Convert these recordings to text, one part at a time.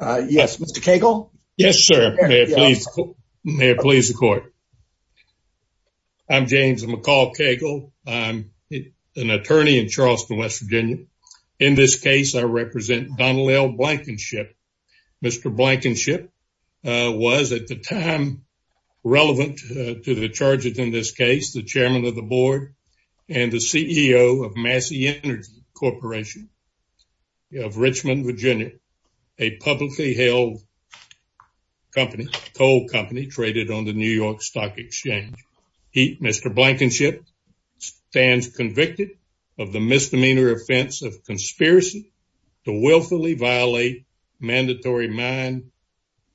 Yes, Mr. Cagle? Yes, sir. May it please the court. I'm James McCall Cagle. I'm an attorney in Charleston, West Virginia. In this case, I represent Donald L. Blankenship. Mr. Blankenship was at the time relevant to the charges in this case, the chairman of the board and the CEO of Massey Energy Corporation of Richmond, Virginia, a publicly held coal company traded on the New York Stock Exchange. Mr. Blankenship stands convicted of the misdemeanor offense of conspiracy to willfully violate mandatory mine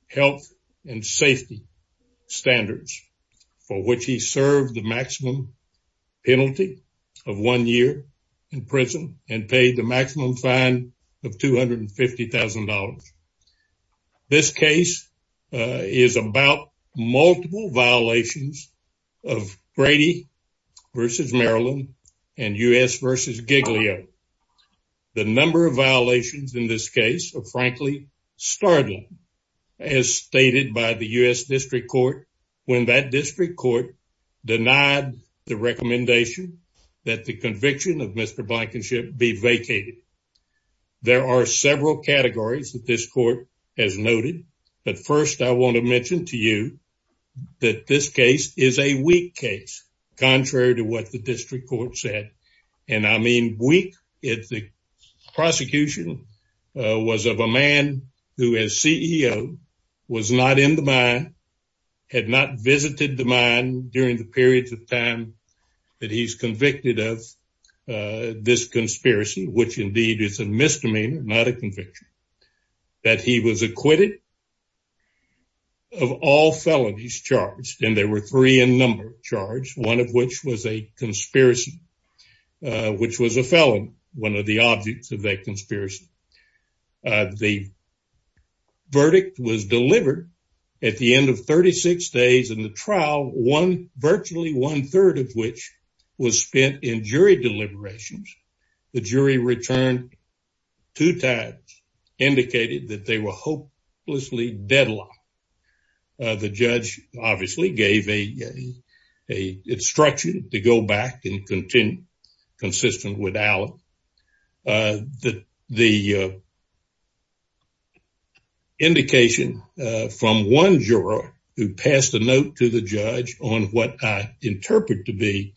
health and safety standards for which he served the maximum penalty of one year in prison and paid the maximum fine of $250,000. This case is about multiple violations of Brady v. Maryland and U.S. v. Giglio. The number of violations in this case are frankly startling as stated by the U.S. District Court when that District Court denied the recommendation that the conviction of Mr. Blankenship be vacated. There are several categories that this court has noted, but first I want to mention to you that this case is a weak case contrary to what the District Court said, and I mean weak. The prosecution was of a man who as CEO was not in the mine, had not visited the mine during the periods of time that he's convicted of this conspiracy, which indeed is a misdemeanor, not a conviction, that he was acquitted of all felonies charged, and there were three in number charged, one of which was a conspiracy, which was a felon, one of the objects of that conspiracy. The verdict was delivered at the end of 36 days in the trial, one virtually one-third of which was spent in jury deliberations. The jury returned two times, indicated that they were hopelessly deadlocked. The judge obviously gave a instruction to go back and continue consistent with Allen that the indication from one juror who passed a note to the judge on what I interpret to be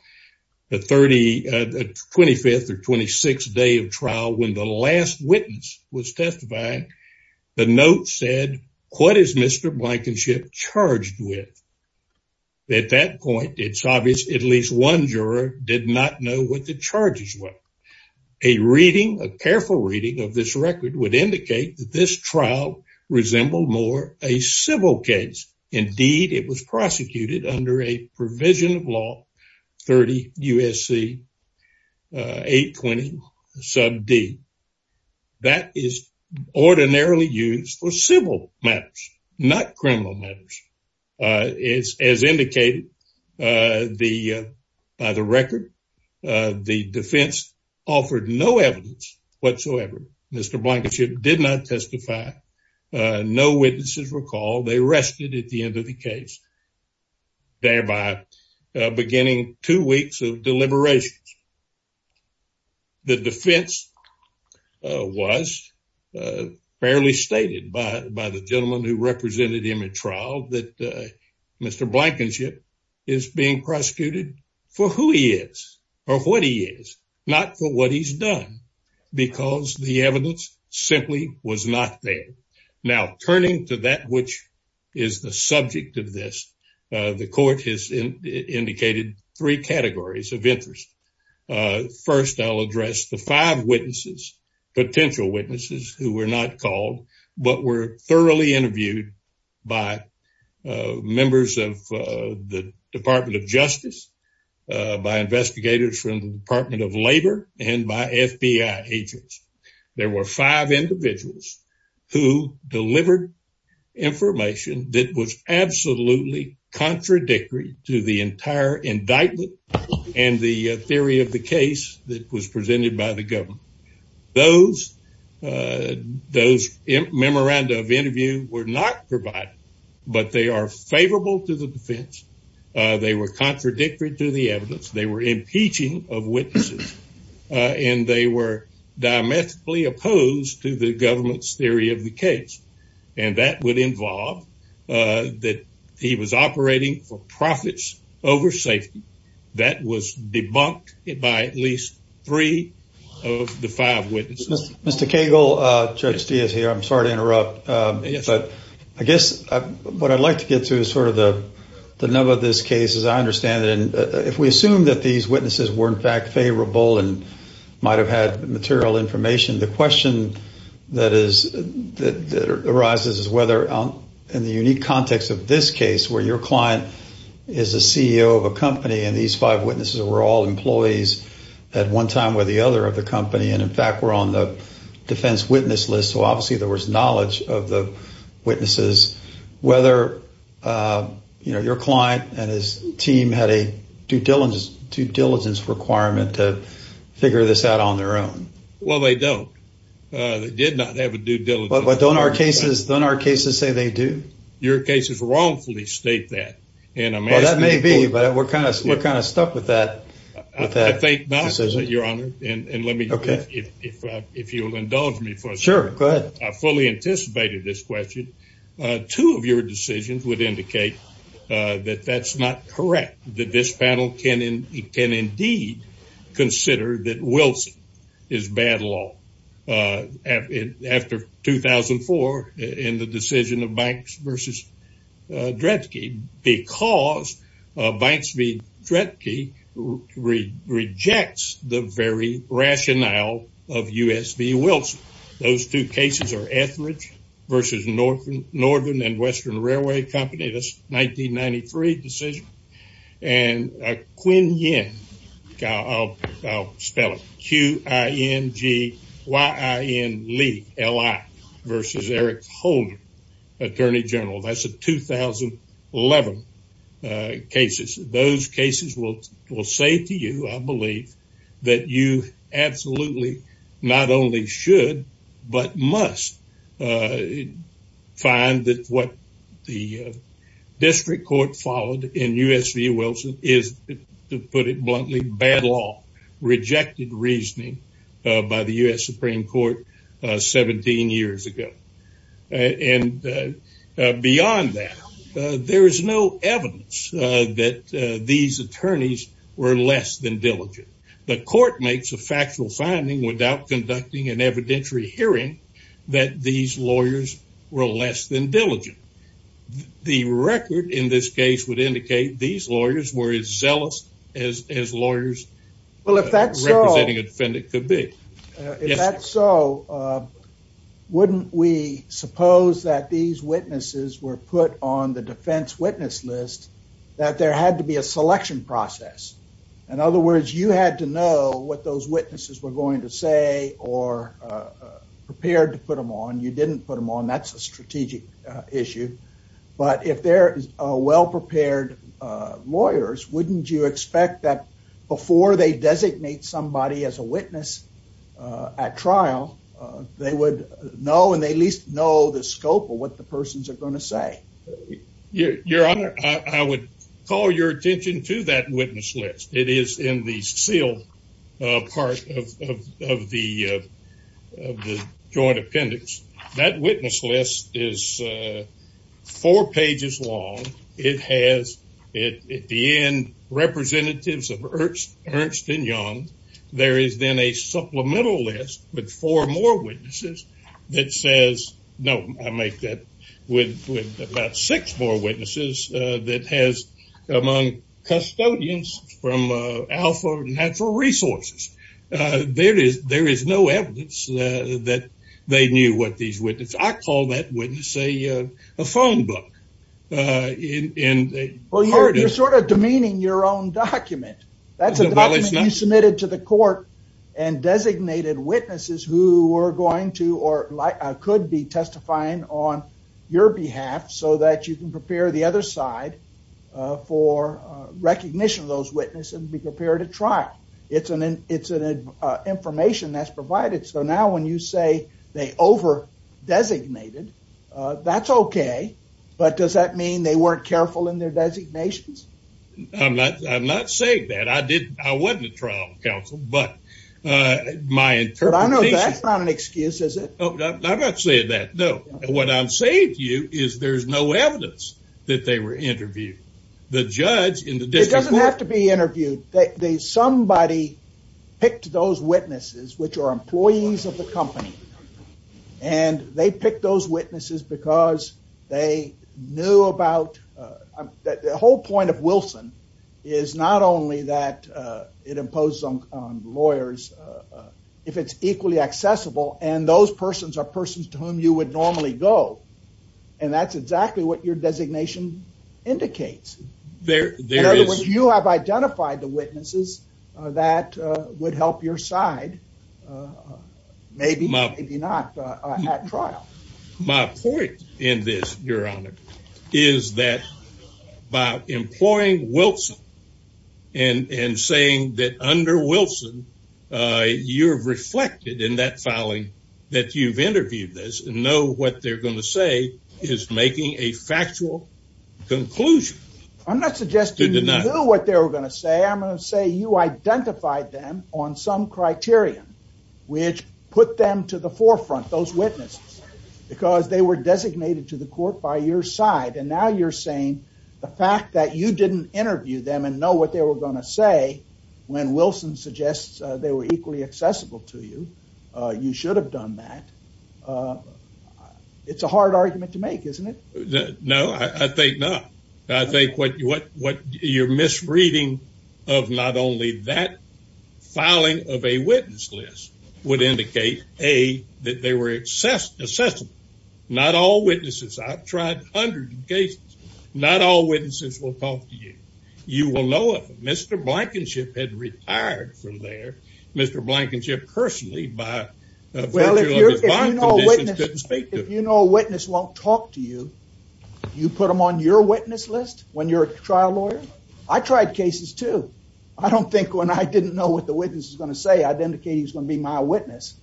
the 25th or 26th day of trial when the last witness was testifying, the note said, what is Mr. Blankenship charged with? At that point, it's obvious at least one juror did not know what the charges were. A reading, a careful reading of this record would indicate that this is ordinarily used for civil matters, not criminal matters. As indicated by the record, the defense offered no evidence whatsoever. Mr. Blankenship did not testify. No witnesses were called. They rested at the end of the case, thereby beginning two weeks of deliberations. The defense was fairly stated by the gentleman who represented him at trial that Mr. Blankenship is being prosecuted for who he is or what he is, not for what he's done, because the evidence simply was not there. Now, turning to that which is the subject of this, the court has indicated three categories of interest. First, I'll address the five witnesses, potential witnesses who were not called but were thoroughly interviewed by members of the Department of Justice, by investigators from the Department of Labor, and by FBI agents. There were five individuals who delivered information that was absolutely contradictory to the entire indictment and the theory of the case that was presented by the government. Those memoranda of interview were not provided, but they are favorable to the defense. They were contradictory to the evidence. They were impeaching of witnesses, and they were diametrically opposed to the government's theory of the case, and that would involve that he was operating for profits over safety. That was debunked by at least three of the five witnesses. Mr. Cagle, Judge Steele is here. I'm sorry to interrupt, but I guess what I'd like to get to is sort of the nub of this case, as I understand it, if we assume that these witnesses were in fact favorable and might have had material information, the question that arises is whether in the unique context of this case, where your client is the CEO of a company and these five witnesses were all employees at one time or the other of the company, and in fact were on the defense witness list, so obviously there was knowledge of the witnesses, whether your client and his team had a due diligence requirement to figure this out on their own. Well, they don't. They did not have a due diligence requirement. But don't our cases say they do? Your cases wrongfully state that. Well, that may be, but we're kind of stuck with that decision. I think not, Your Honor, and if you'll indulge me for a second. Sure, go ahead. I fully anticipated this question. Two of your decisions would indicate that that's not correct, that this panel can indeed consider that Wilson is bad law after 2004 in the decision of Banks v. Dredtke because Banks v. Dredtke rejects the very rationale of U.S. v. Wilson. Those two cases are Etheridge v. Northern and Western Railway Company, that's 1993 decision, and Qinyin, I'll spell it, Q-I-N-G-Y-I-N-L-I versus Eric Holder, Attorney General. That's the 2011 cases. Those cases will say to you, I believe, that you absolutely not only should but must find that what the district court followed in U.S. v. Wilson is, to put it bluntly, bad law, rejected reasoning by the U.S. Supreme Court 17 years ago. And beyond that, there is no evidence that these attorneys were less than diligent. The court makes a factual finding without conducting an evidentiary hearing that these lawyers were less than diligent. The record in this case would indicate these lawyers were as zealous as lawyers representing a defendant could be. If that's so, wouldn't we suppose that these witnesses were put on the defense witness list that there had to be a selection process? In other words, you had to know what those witnesses were going to say or prepared to put them on. You didn't put them on. That's a strategic issue. But if they're well-prepared lawyers, wouldn't you expect that before they designate somebody as a witness at trial, they would know and they at least know the scope of what the persons are going to say? Your Honor, I would call your attention to that witness list. It is in the sealed part of the joint appendix. That witness list is four pages long. It has, at the end, representatives of Ernst and Young. There is then a supplemental list with four more witnesses that says, no, I make that, with about six more witnesses that has among custodians from Alpha Natural Resources. There is no evidence that they knew what these witnesses, I call that witness a document. That's a document you submitted to the court and designated witnesses who were going to or could be testifying on your behalf so that you can prepare the other side for recognition of those witnesses and be prepared at trial. It's an information that's provided. So now when you say they over-designated, that's okay. But does that mean they weren't careful in their designations? I'm not saying that. I wasn't a trial counsel, but my interpretation... But I know that's not an excuse, is it? I'm not saying that, no. What I'm saying to you is there's no evidence that they were interviewed. The judge in the district court... It doesn't have to be interviewed. Somebody picked those witnesses, which are employees of the company, and they picked those witnesses because they knew about... The whole point of Wilson is not only that it imposes on lawyers, if it's equally accessible and those persons are persons to whom you would normally go, and that's exactly what your designation indicates. In other words, you have identified the witnesses that would help your side, maybe, maybe not, at trial. My point in this, your honor, is that by employing Wilson and saying that under Wilson, you're reflected in that filing that you've interviewed this and know what they're going to say is making a factual conclusion. I'm not suggesting you knew what they were going to say. I'm going to say you identified them on some criterion, which put them to the forefront, those witnesses, because they were designated to the court by your side, and now you're saying the fact that you didn't interview them and know what they were going to say when Wilson suggests they were equally accessible to you, you should have done that. It's a hard argument to make, isn't it? No, I think not. I think what you're misreading of not only that filing of a witness list would indicate, A, that they were accessible. Not all witnesses, I've tried hundreds of cases, not all witnesses will talk to you. You will know if Mr. Blankenship had retired from there. Mr. Blankenship personally by virtue of his conditions couldn't speak to him. Well, if you know a witness won't talk to you, you put them on your witness list when you're a trial lawyer? I tried cases too. I don't think when I didn't know what the witness was going to say, I'd indicate he was going to be my witness.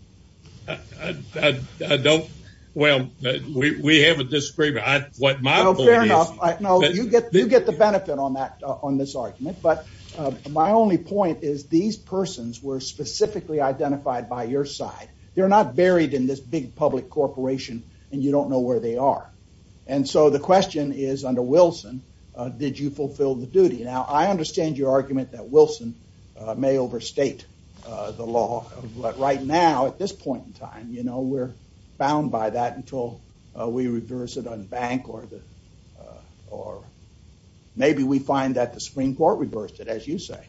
Well, we have a disagreement. What my point is... Well, fair enough. No, you get the benefit on this argument, but my only point is these persons were specifically identified by your side. They're not buried in this big public corporation and you don't know where they are. And so, the question is under Wilson, did you fulfill the duty? Now, I understand your argument that Wilson may overstate the law, but right now at this point in time, you know, we're bound by that until we reverse it on the bank or maybe we find that the Supreme Court reversed it, as you say.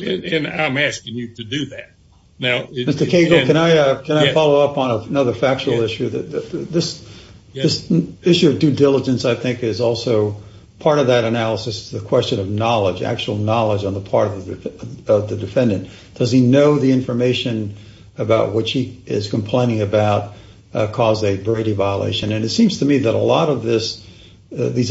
And I'm asking you to do that. Now... Mr. Cagle, can I follow up on another factual issue? This issue of due diligence, I think, is also part of that analysis, the question of knowledge, actual knowledge on the part of the defendant. Does he know the violation? And it seems to me that a lot of these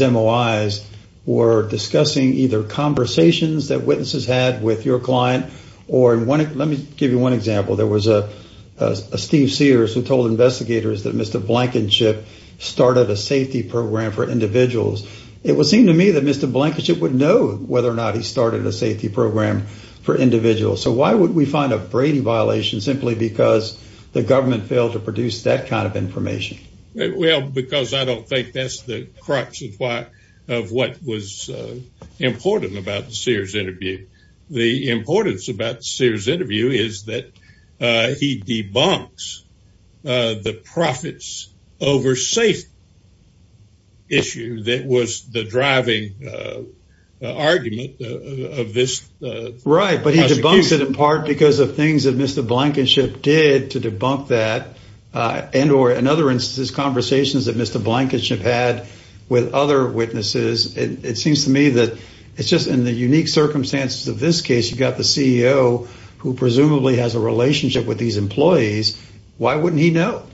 MOIs were discussing either conversations that witnesses had with your client or in one... Let me give you one example. There was a Steve Sears who told investigators that Mr. Blankenship started a safety program for individuals. It would seem to me that Mr. Blankenship would know whether or not he started a safety program for individuals. So why would we find a Brady violation simply because the government failed to produce that kind of information? Well, because I don't think that's the crux of what was important about the Sears interview. The importance about the Sears interview is that he debunks the profits over safety issue that was the driving argument of this... Right, but he debunks it in part because of things that Mr. Blankenship did to debunk that and or in other instances, conversations that Mr. Blankenship had with other witnesses. It seems to me that it's just in the unique circumstances of this case, you've got the CEO who presumably has a relationship with these employees. Why wouldn't he know?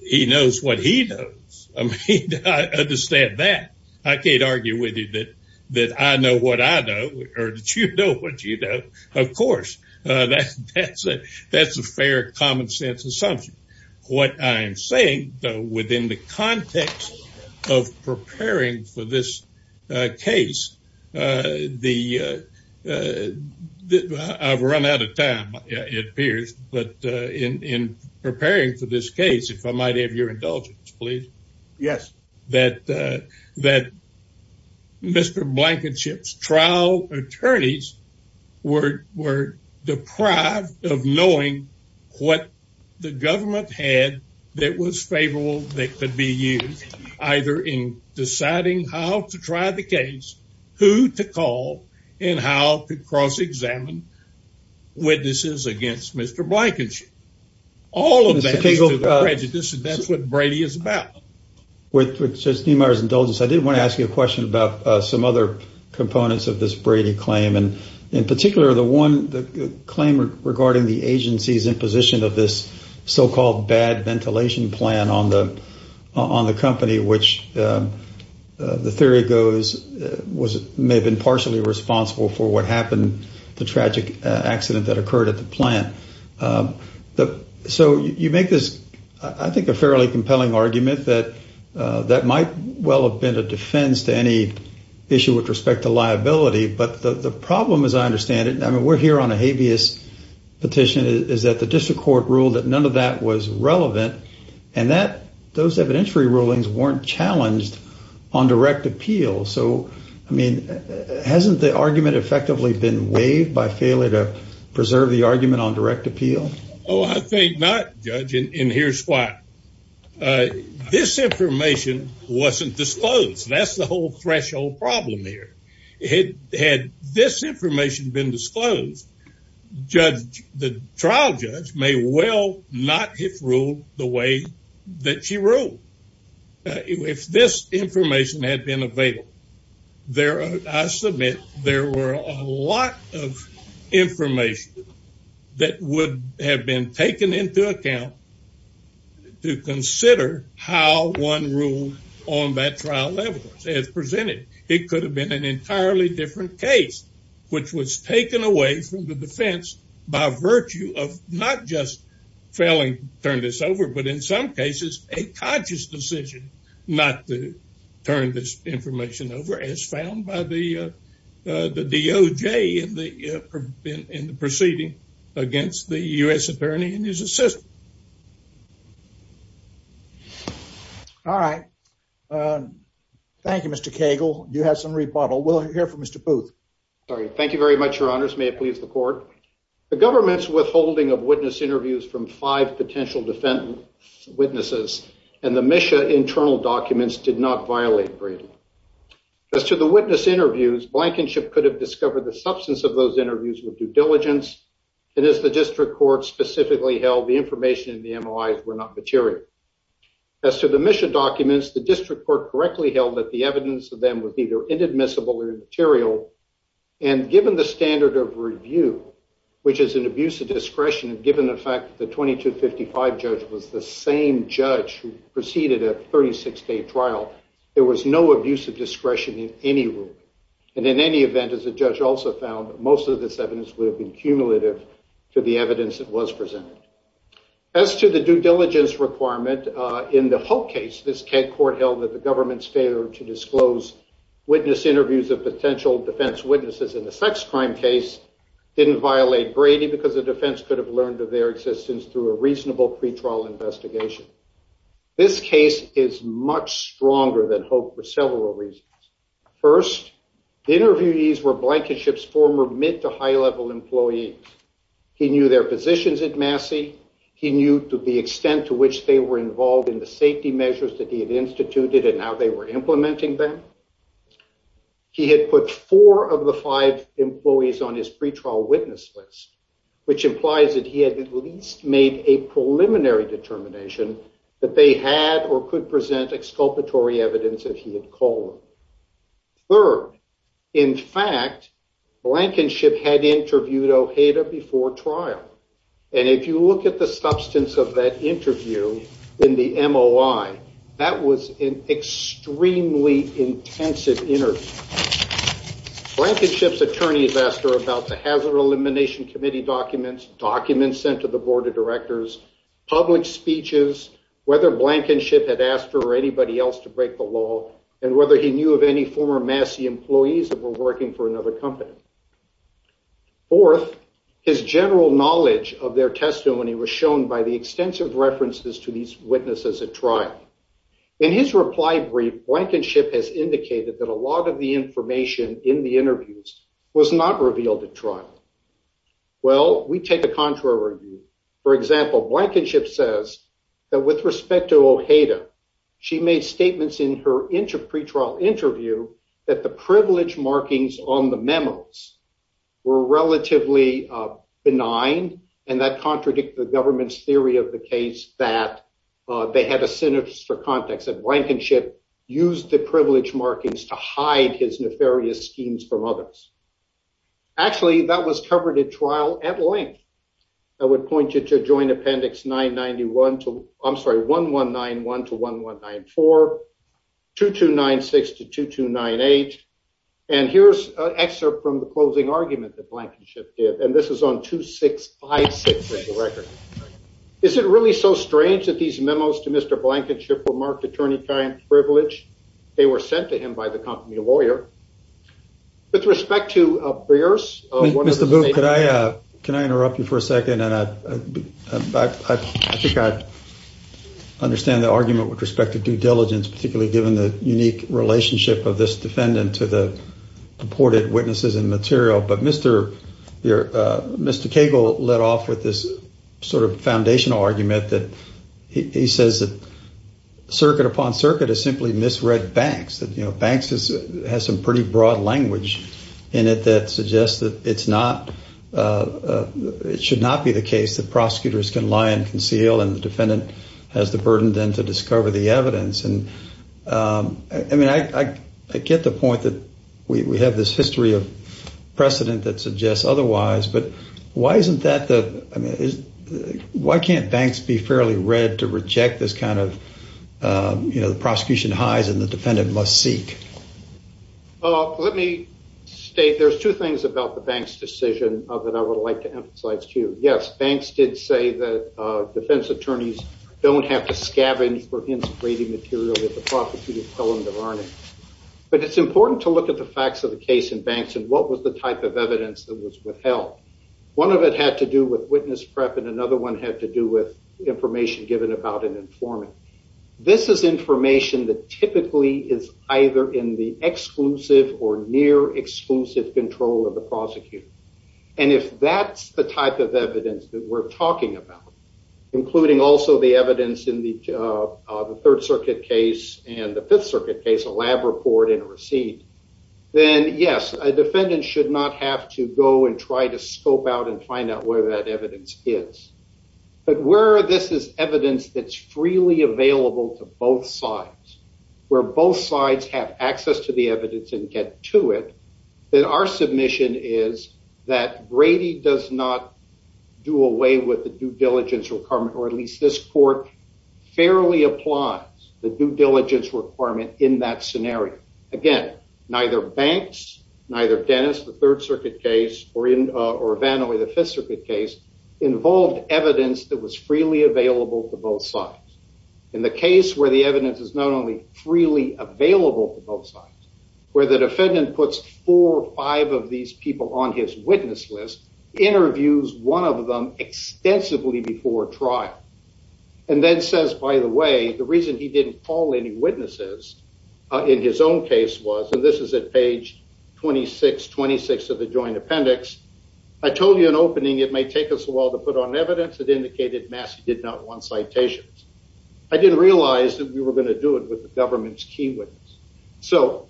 He knows what he knows. I mean, I understand that. I can't argue with you that I know what I know or that you know what you know. Of course, that's a fair common sense assumption. What I'm saying, though, within the context of preparing for this case, I've run out of time it appears, but in preparing for this case, if I might have your indulgence, please. Yes. That Mr. Blankenship's trial attorneys were deprived of knowing what the government had that was favorable that could be used, either in deciding how to try the case, who to call, and how to cross-examine witnesses against Mr. Blankenship. All of that is prejudice and that's what Brady is about. With just Neimeyer's indulgence, I did want to ask you a question about some other components of this case. In particular, the claim regarding the agency's imposition of this so-called bad ventilation plan on the company, which the theory goes may have been partially responsible for what happened, the tragic accident that occurred at the plant. You make this, I think, a fairly compelling argument that that might well have been a defense to any issue with respect to the company. We're here on a habeas petition. The district court ruled that none of that was relevant. Those evidentiary rulings weren't challenged on direct appeal. Hasn't the argument effectively been waived by failure to preserve the argument on direct appeal? Oh, I think not, Judge. Here's why. This information wasn't disclosed. That's the reason. The trial judge may well not have ruled the way that she ruled. If this information had been available, I submit there were a lot of information that would have been taken into account to consider how one ruled on that trial level as presented. It could have been an entirely different case, which was taken away from the defense by virtue of not just failing to turn this over, but in some cases, a conscious decision not to turn this information over as found by the DOJ in the proceeding against the U.S. attorney and his assistant. All right. Thank you, Mr. Cagle. You have some rebuttal. We'll hear from Mr. Booth. All right. Thank you very much, your honors. May it please the court. The government's withholding of witness interviews from five potential defendant witnesses and the MSHA internal documents did not violate Bradley. As to the witness interviews, Blankenship could have discovered the substance of those interviews with due diligence, and as the district court held, the information in the MOIs were not material. As to the MSHA documents, the district court correctly held that the evidence of them was either inadmissible or immaterial, and given the standard of review, which is an abuse of discretion, and given the fact that the 2255 judge was the same judge who proceeded a 36-day trial, there was no abuse of discretion in any ruling, and in any event, as the judge also found, most of this evidence would have been cumulative to the evidence that was presented. As to the due diligence requirement, in the Hope case, this court held that the government's failure to disclose witness interviews of potential defense witnesses in a sex crime case didn't violate Brady because the defense could have learned of their existence through a reasonable pretrial investigation. This case is much stronger than Hope for several reasons. First, the interviewees were Blankenship's mid- to high-level employees. He knew their positions at Massey. He knew the extent to which they were involved in the safety measures that he had instituted and how they were implementing them. He had put four of the five employees on his pretrial witness list, which implies that he had at least made a preliminary determination that they had or could present exculpatory evidence if he had called them. Third, in fact, Blankenship had interviewed Ojeda before trial, and if you look at the substance of that interview in the MOI, that was an extremely intensive interview. Blankenship's attorneys asked her about the Hazard Elimination Committee documents, documents sent to the Board of Directors, public speeches, whether Blankenship had asked her or and whether he knew of any former Massey employees that were working for another company. Fourth, his general knowledge of their testimony was shown by the extensive references to these witnesses at trial. In his reply brief, Blankenship has indicated that a lot of the information in the interviews was not revealed at trial. Well, we take a contrary view. For example, Blankenship says that with respect to Ojeda, she made statements in her pretrial interview that the privilege markings on the memos were relatively benign, and that contradicted the government's theory of the case that they had a sinister context, and Blankenship used the privilege markings to hide his nefarious schemes from others. Actually, that was covered at trial at length. I would point you to Joint Appendix 991 to, I'm sorry, 1191 to 1194, 2296 to 2298, and here's an excerpt from the closing argument that Blankenship did, and this is on 2656 of the record. Is it really so strange that these memos to Mr. Blankenship were marked attorney-client privilege? They were sent to him by the company lawyer. With respect to Brears, one of the Can I interrupt you for a second? I think I understand the argument with respect to due diligence, particularly given the unique relationship of this defendant to the reported witnesses and material, but Mr. Cagle led off with this sort of foundational argument that he says that circuit upon circuit is simply misread Banks. Banks has some pretty broad language in it that suggests that it should not be the case that prosecutors can lie and conceal, and the defendant has the burden then to discover the evidence. I get the point that we have this history of precedent that suggests otherwise, but why can't Banks be fairly read to reject this kind of, you know, the prosecution hides and the defendant must seek? Well, let me state there's two things about the Banks decision that I would like to emphasize to you. Yes, Banks did say that defense attorneys don't have to scavenge for his grading material with the property of Helen Devarney, but it's important to look at the facts of the case in Banks and what was the type of evidence that was withheld. One of it had to do with witness prep and another one had to do with information given about an informant. This is information that typically is either in the exclusive or near exclusive control of the prosecutor, and if that's the type of evidence that we're talking about, including also the evidence in the third circuit case and the fifth circuit case, a lab report and a receipt, then yes, a defendant should not have to go and try to scope out and find out where that evidence is. But where this is evidence that's freely available to both sides, where both sides have access to the evidence and get to it, then our submission is that Brady does not do away with the due diligence requirement, or at least this court fairly applies the due diligence requirement in that scenario. Again, neither Banks, neither Dennis, the third circuit case, or Vanoey, the fifth circuit case, involved evidence that was freely available to both sides. In the case where the evidence is not only freely available to both sides, where the defendant puts four or five of these people on his witness list, interviews one of them extensively before trial, and then says, by the way, the reason he didn't call any witnesses in his own case was, and this is at page 2626 of the joint appendix, I told you in opening it may take us a while to put on evidence that indicated Massey did not want citations. I didn't realize that we were going to do it with the government's key witness. So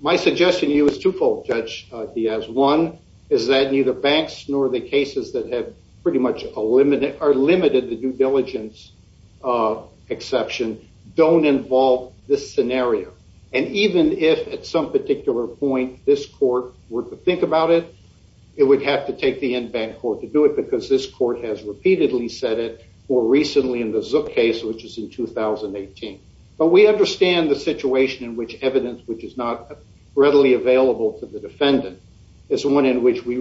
my suggestion to you is twofold, Judge Diaz. One is that neither Banks nor the cases that have pretty much are limited to due diligence exception don't involve this scenario. And even if at some particular point this court were to think about it, it would have to take the in-bank court to do it because this court has repeatedly said it, or recently in the Zook case, which is in 2018. But we understand the situation in which evidence which is not readily available to the defendant is one in which we a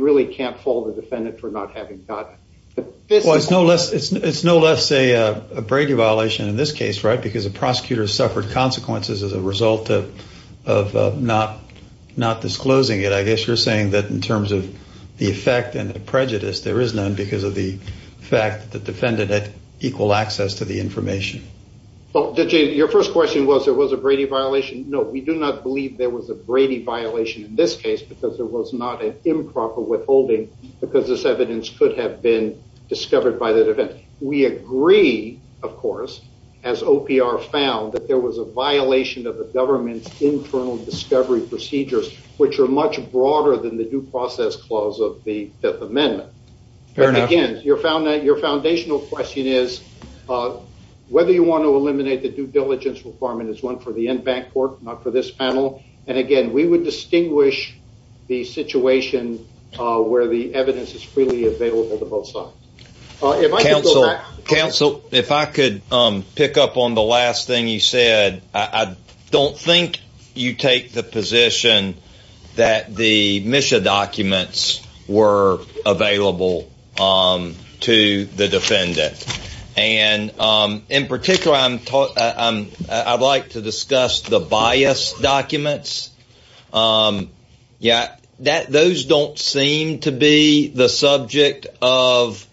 Brady violation in this case, right? Because the prosecutor suffered consequences as a result of not disclosing it. I guess you're saying that in terms of the effect and the prejudice, there is none because of the fact that the defendant had equal access to the information. Well, Judge Diaz, your first question was, there was a Brady violation. No, we do not believe there was a Brady violation in this case because there was not an improper withholding because this is a case that is not in the Zook case. We agree, of course, as OPR found that there was a violation of the government's internal discovery procedures, which are much broader than the due process clause of the Fifth Amendment. Fair enough. And again, your foundational question is whether you want to eliminate the due diligence requirement is one for the in-bank court, not for this panel. And again, we would distinguish the situation where the evidence is freely available to both sides. Counsel, if I could pick up on the last thing you said, I don't think you take the position that the mission documents were available to the defendant. And in particular, I'd like to discuss the bias documents. Those don't seem to be the subject of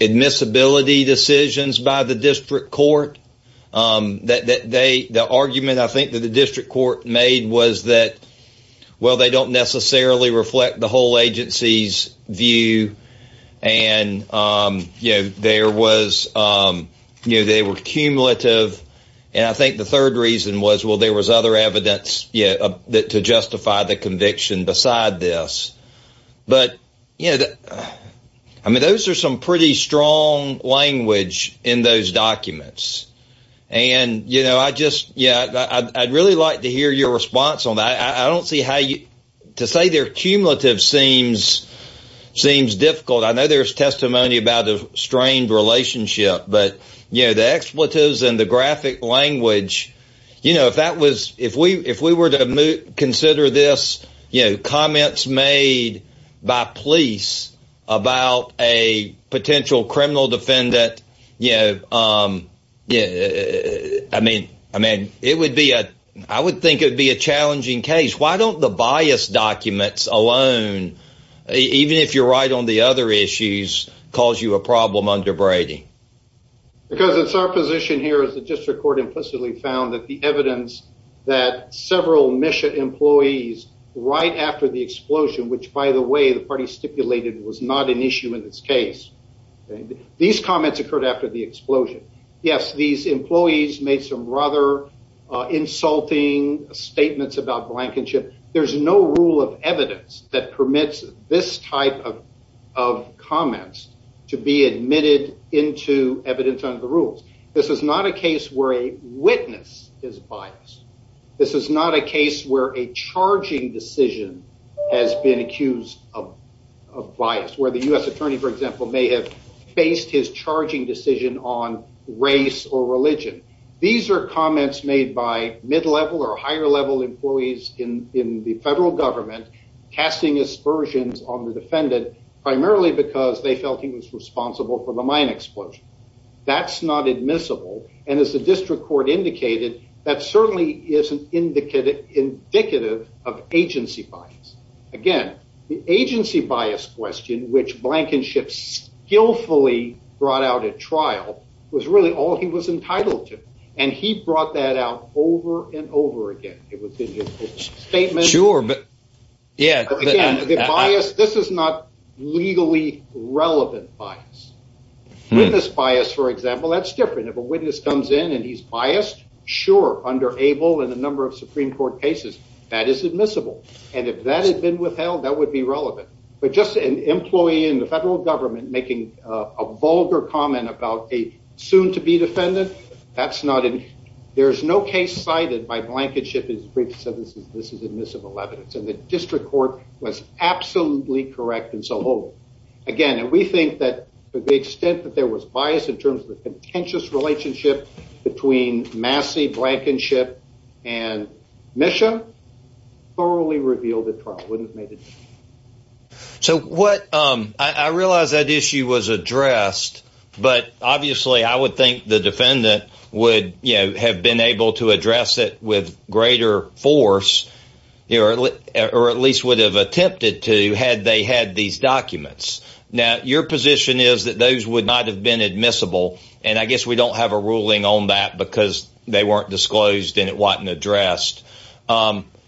admissibility decisions by the district court. The argument I think that the district court made was that, well, they don't necessarily reflect the whole agency's view. And they were cumulative. And I think the third reason was, well, there was other evidence to justify the conviction beside this. But I mean, those are some pretty strong language in those documents. And I'd really like to hear your opinion on that. I mean, the cumulative seems difficult. I know there's testimony about a strained relationship, but, you know, the expletives and the graphic language, you know, if that was if we were to consider this, you know, comments made by police about a potential criminal defendant, you know, I mean, it would be a I would think it would be a challenging case. Why don't the bias documents alone, even if you're right on the other issues, cause you a problem under Brady? Because it's our position here is the district court implicitly found that the evidence that several mission employees right after the explosion, which, by the way, the party stipulated was not an issue in this case. These comments occurred after the there's no rule of evidence that permits this type of of comments to be admitted into evidence under the rules. This is not a case where a witness is biased. This is not a case where a charging decision has been accused of bias, where the U.S. attorney, for example, may have faced his charging decision on race or religion. These are comments made by mid level or higher level employees in the federal government casting aspersions on the defendant, primarily because they felt he was responsible for the mine explosion. That's not admissible. And as the district court indicated, that certainly isn't indicative of agency bias. Again, the agency bias question, which Blankenship skillfully brought out at trial, was really all he was entitled to. And he brought that out over and over again. It was a statement. Sure. But yeah, this is not legally relevant bias. This bias, for example, that's different. If a witness comes in and he's biased. Sure. Under able and a number of Supreme Court cases that is admissible. And if that had been withheld, that would be relevant. But just an employee in the federal government making a vulgar comment about a soon to be defendant. That's not it. There is no case cited by Blankenship is brief. So this is this is admissible evidence. And the district court was absolutely correct. And so, again, we think that the extent that there was bias in terms of the contentious relationship between Massey, Blankenship and Misha thoroughly revealed the wouldn't have made it. So what I realize that issue was addressed, but obviously I would think the defendant would have been able to address it with greater force, or at least would have attempted to had they had these documents. Now, your position is that those would not have been admissible. And I guess we don't have a ruling on that because they weren't disclosed and it addressed.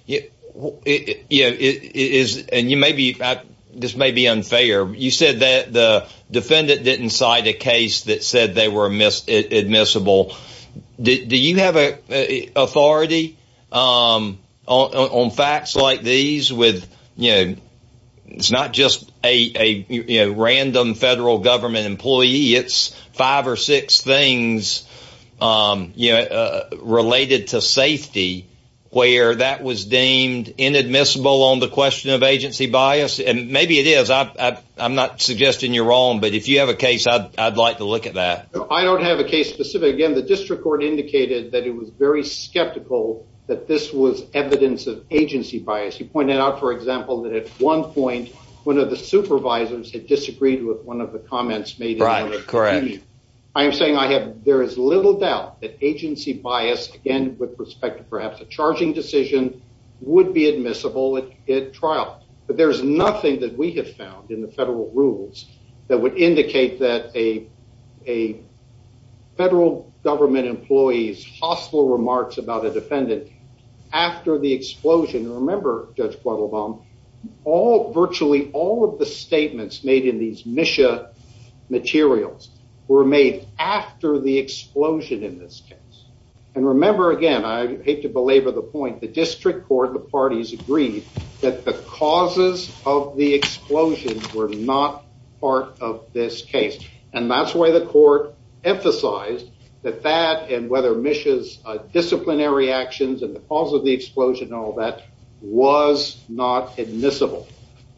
You know, it is and you maybe this may be unfair. You said that the defendant didn't cite a case that said they were admissible. Do you have authority on facts like these with you? It's not just a random federal government employee. It's five or six things, you know, to safety where that was deemed inadmissible on the question of agency bias. And maybe it is. I'm not suggesting you're wrong, but if you have a case, I'd like to look at that. I don't have a case specific. Again, the district court indicated that it was very skeptical that this was evidence of agency bias. He pointed out, for example, that at one point, one of the supervisors had disagreed with one of the comments made. Right. Correct. I am saying I have there is little doubt that agency bias, again, with respect to perhaps a charging decision, would be admissible at trial. But there's nothing that we have found in the federal rules that would indicate that a federal government employee's hostile remarks about a defendant after the explosion. Remember, Judge Quattlebaum, all virtually all of the statements made in these mission materials were made after the explosion in this case. And remember, again, I hate to belabor the point, the district court, the parties agreed that the causes of the explosion were not part of this case. And that's why the court emphasized that that and whether Misha's disciplinary actions and the cause of the explosion and all that was not admissible.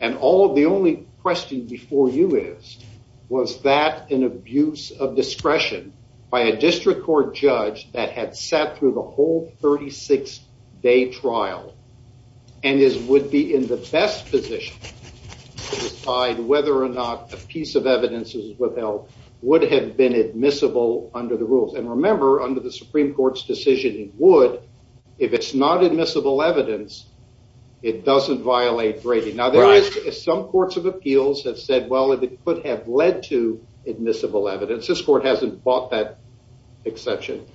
And all of the only question before you is, was that an abuse of discretion by a district court judge that had sat through the whole 36 day trial and is would be in the best position to decide whether or not a piece of evidence is withheld would have been admissible under the rules. And remember, under the Supreme Court's decision, it would if it's not admissible evidence. It doesn't violate Brady. Now, there is some courts of appeals that said, well, if it could have led to admissible evidence, this court hasn't bought that exception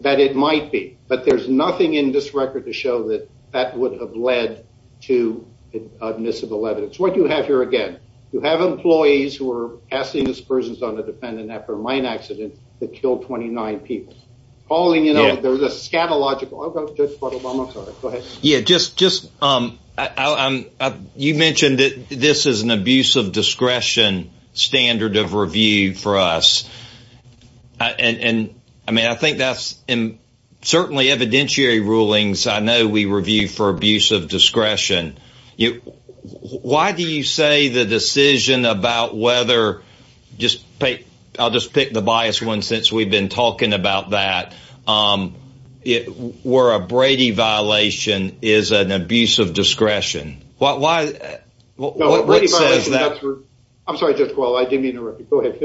that it might be. But there's nothing in this record to show that that would have led to admissible evidence. What you have here, again, you have employees who are asking this person's on the defendant after a mine accident that killed 29 people calling, there's a scantilogical Obama. Yeah, just just you mentioned that this is an abuse of discretion standard of review for us. And I mean, I think that's in certainly evidentiary rulings. I know we review for abuse of discretion. Why do you say the decision about whether just pay? I'll just the bias one since we've been talking about that. It were a Brady violation is an abuse of discretion. Why? Well, what is that? I'm sorry, just well, I didn't mean to go ahead.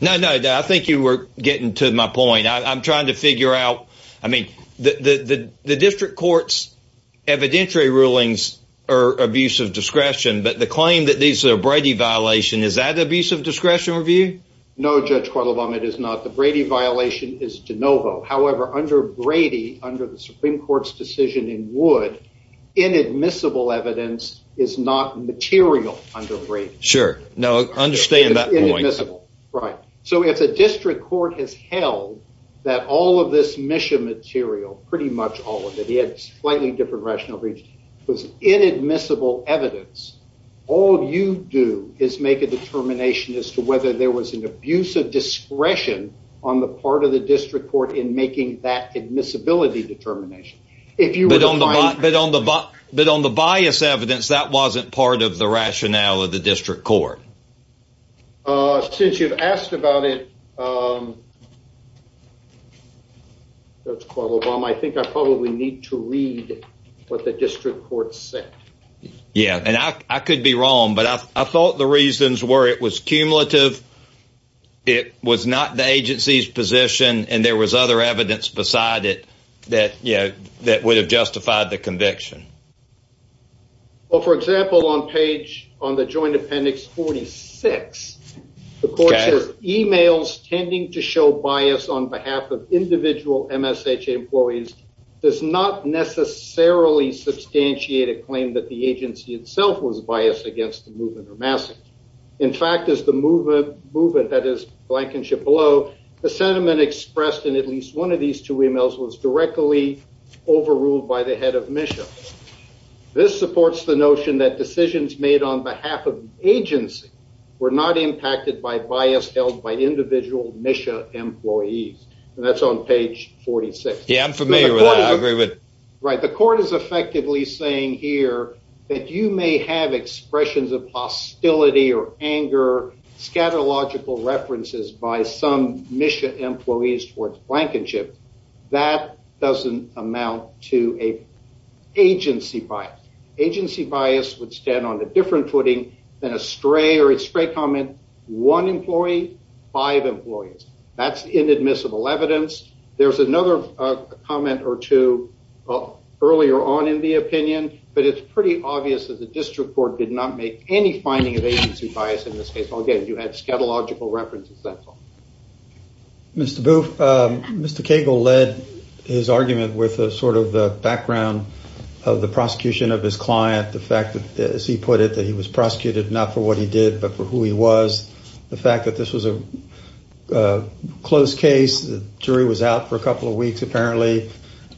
No, no. I think you were getting to my point. I'm trying to figure out. I mean, the district court's evidentiary rulings are abuse of discretion. But the claim that these are Brady violation is that review? No, Judge, it is not. The Brady violation is de novo. However, under Brady, under the Supreme Court's decision in wood, inadmissible evidence is not material under Brady. Sure. No, I understand that. Right. So if the district court has held that all of this mission material, pretty much all of it, it's slightly different rational breach was inadmissible evidence. All you do is make a determination as to whether there was an abuse of discretion on the part of the district court in making that admissibility determination. If you don't, but on the but on the bias evidence that wasn't part of the rationale of the district court. Since you've asked about it. That's called Obama. I think I probably need to read what the district court said. Yeah, and I could be wrong, but I thought the reasons were it was cumulative. It was not the agency's position. And there was other evidence beside it that, you know, that would have justified the conviction. Well, for example, on page on the joint appendix, 46, of course, emails tending to show bias on behalf of individual MSHA employees does not necessarily substantiate a claim that the agency itself was biased against the movement or massive. In fact, as the movement movement that is blankenship below the sentiment expressed in at least one of these two emails was directly overruled by the head of mission. This supports the notion that decisions made on behalf of agency were not impacted by bias held by individual mission employees. And that's on page 46. Yeah, I'm familiar with agreement. Right. The court is effectively saying here that you may have expressions of hostility or anger, scatological references by some mission employees towards blankenship. That doesn't amount to an agency bias. Agency bias would stand on a different footing than a stray or a stray comment. One employee, five employees. That's inadmissible evidence. There's another comment or two earlier on in the opinion, but it's pretty obvious that the district court did not make any finding of agency bias in this case. Again, you had scatological references. That's all. Mr. Booth, Mr. Cagle led his argument with a sort of background of the prosecution of his client. The fact that, as he put it, that he was prosecuted not for what he did, but for who he was. The fact that this was a closed case, the jury was out for a couple of weeks. Apparently,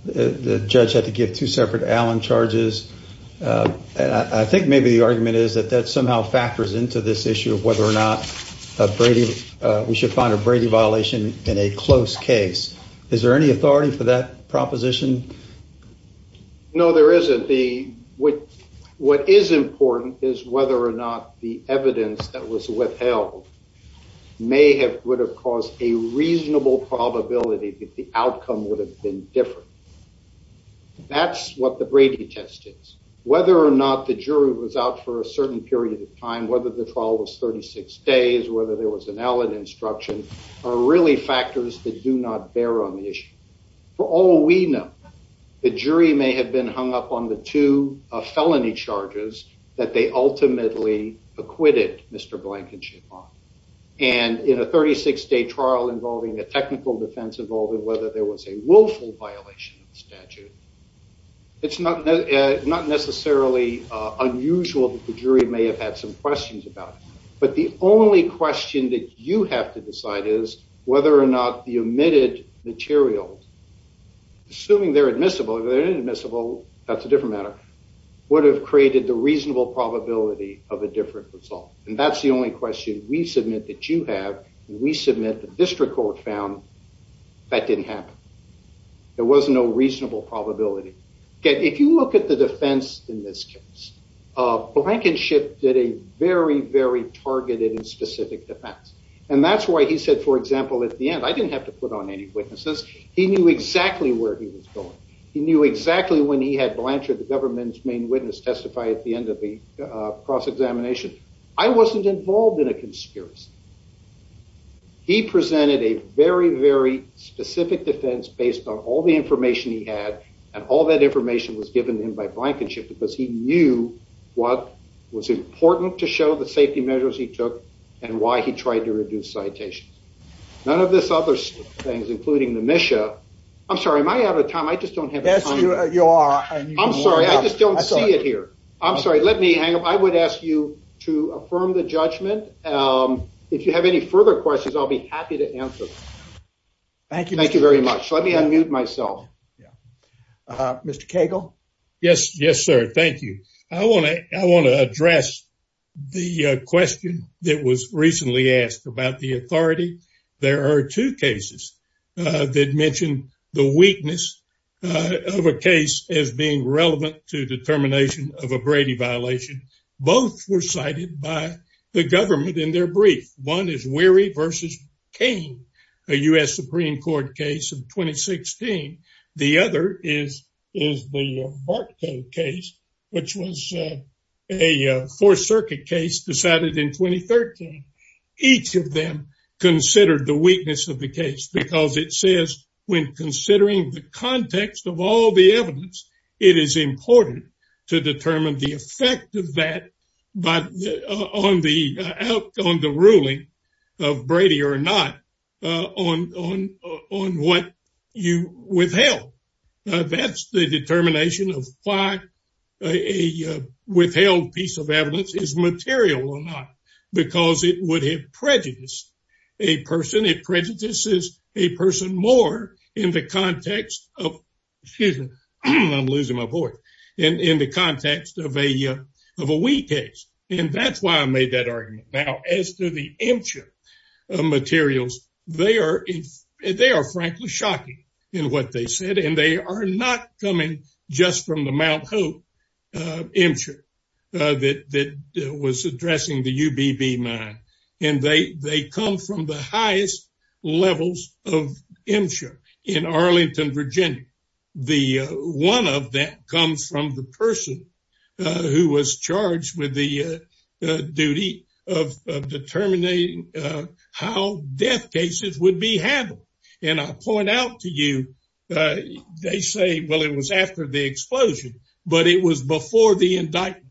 the judge had to give two separate Allen charges. And I think maybe the argument is that that we should find a Brady violation in a closed case. Is there any authority for that proposition? No, there isn't. What is important is whether or not the evidence that was withheld may have would have caused a reasonable probability that the outcome would have been different. That's what the Brady test is. Whether or not the jury was out for a certain period of time, whether the trial was 36 days, whether there was an Allen instruction, are really factors that do not bear on the issue. For all we know, the jury may have been hung up on the two felony charges that they ultimately acquitted Mr. Blankenship on. And in a 36-day trial involving a technical defense involving whether there was a willful violation of the statute, it's not necessarily unusual that the jury may have had some questions about it. But the only question that you have to decide is whether or not the omitted material, assuming they're admissible, if they're inadmissible, that's a different matter, would have created the reasonable probability of a different result. And that's the only question we submit that you have. We submit the district court found that didn't happen. There was no reasonable probability. If you look at the defense in this case, Blankenship did a very, very targeted and specific defense. And that's why he said, for example, at the end, I didn't have to put on any witnesses. He knew exactly where he was going. He knew exactly when he had Blanchard, the government's main witness, testify at the end of cross-examination. I wasn't involved in a conspiracy. He presented a very, very specific defense based on all the information he had. And all that information was given him by Blankenship because he knew what was important to show the safety measures he took and why he tried to reduce citations. None of this other things, including the MSHA. I'm sorry, am I out of time? Yes, you are. I'm sorry. I just don't see it here. I'm sorry. Let me hang up. I would ask you to affirm the judgment. If you have any further questions, I'll be happy to answer. Thank you. Thank you very much. Let me unmute myself. Mr. Cagle. Yes, sir. Thank you. I want to address the question that was recently asked about the of a case as being relevant to the termination of a Brady violation. Both were cited by the government in their brief. One is Weary v. Cain, a U.S. Supreme Court case of 2016. The other is the Bartholdt case, which was a Fourth Circuit case decided in 2013. Each of them considered the weakness of the case because it says when considering the context of all the evidence, it is important to determine the effect of that on the ruling of Brady or not on what you withheld. That's the determination of why a withheld piece of evidence is material or it would have prejudiced a person. It prejudices a person more in the context of a weak case. That's why I made that argument. As to the MCHR materials, they are frankly shocking in what they said. They are not coming just from the Mt. Hope MCHR that was addressing the UBB mine. They come from the highest levels of MCHR in Arlington, Virginia. One of them comes from the person who was charged with the duty of determining how death cases would be handled. I point out to you that they say it was after the explosion, but it was before the indictment.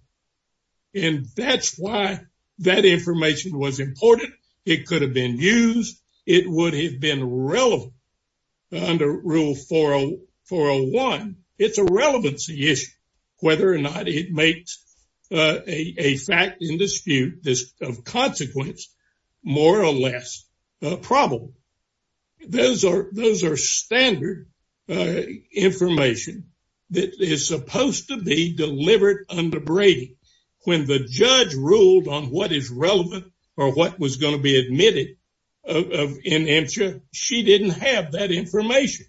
That's why that information was important. It could have been used. It would have been relevant under Rule 401. It's a relevancy issue whether or not it makes a fact in dispute of consequence more or less probable. Those are standard information that is supposed to be delivered under Brady. When the judge ruled on what is relevant or what was going to be admitted in MCHR, she didn't have that information.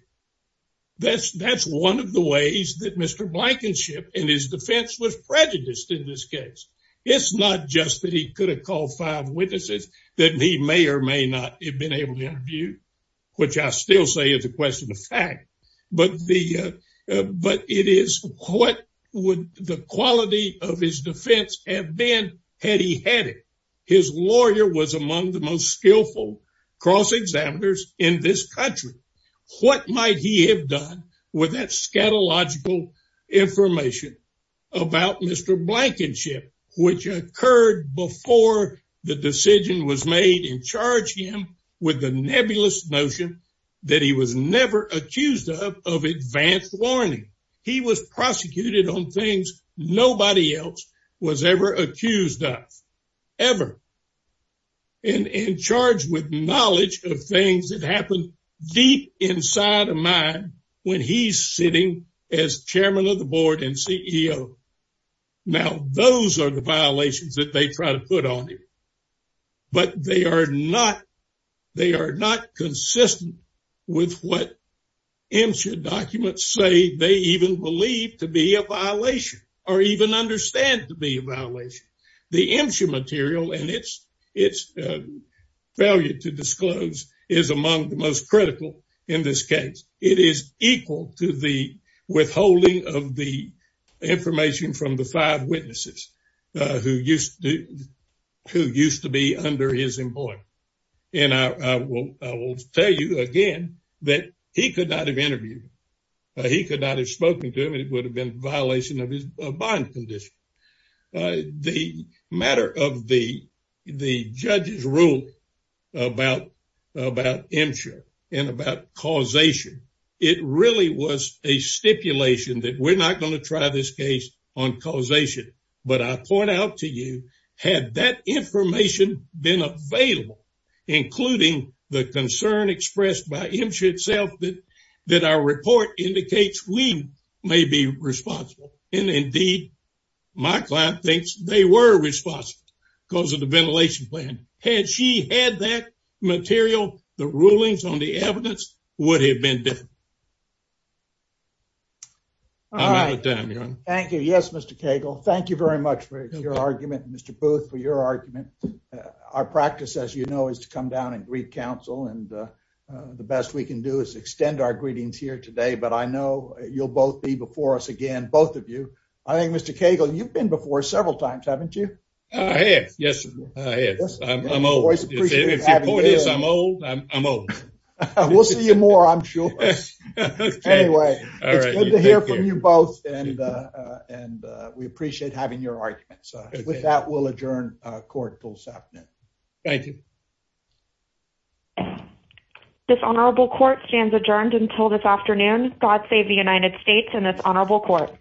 That's one of the ways that Mr. Blankenship and his defense was prejudiced in this case. It's not just that he could have called five witnesses that he may or may not have been able to interview, which I still say is a question of fact, but it is what would the quality of his defense have been had he had it. His lawyer was among the most skillful cross-examiners in this country. What might he have done with that scatological information about Mr. Blankenship, which occurred before the decision was made and charged him with the nebulous notion that he was never accused of advance warning. He was prosecuted on things nobody else was ever accused of, ever, and charged with knowledge of things that happen deep inside a man when he's sitting as chairman of the board and CEO. Now, those are the violations that they try to put on you, but they are not consistent with what MCHR documents say they even believe to be a violation or even understand to be a violation. The MCHR material and its failure to disclose is among the most critical in this case. It is equal to the withholding of the information from the five witnesses who used to be under his employment, and I will tell you again that he could not have interviewed him. He could not have spoken to him. It would have been a bond condition. The matter of the judge's rule about MCHR and about causation, it really was a stipulation that we're not going to try this case on causation, but I point out to you, had that information been available, including the concern expressed by MCHR itself that our report indicates we may be responsible, and indeed my client thinks they were responsible because of the ventilation plan, had she had that material, the rulings on the evidence would have been different. Thank you. Yes, Mr. Cagle. Thank you very much for your argument, Mr. Booth, for your argument. Our practice, as you know, is to come down and greet counsel, and the best we can do is extend our greetings here today, but I know you'll both be before us again, both of you. I think, Mr. Cagle, you've been before several times, haven't you? I have, yes, I have. I'm old. I'm old. We'll see you more, I'm sure. Anyway, it's good to hear from you both, and we appreciate having your arguments. With that, we'll adjourn court until this afternoon. Thank you. This Honorable Court stands adjourned until this afternoon. God save the United States and this Honorable Court.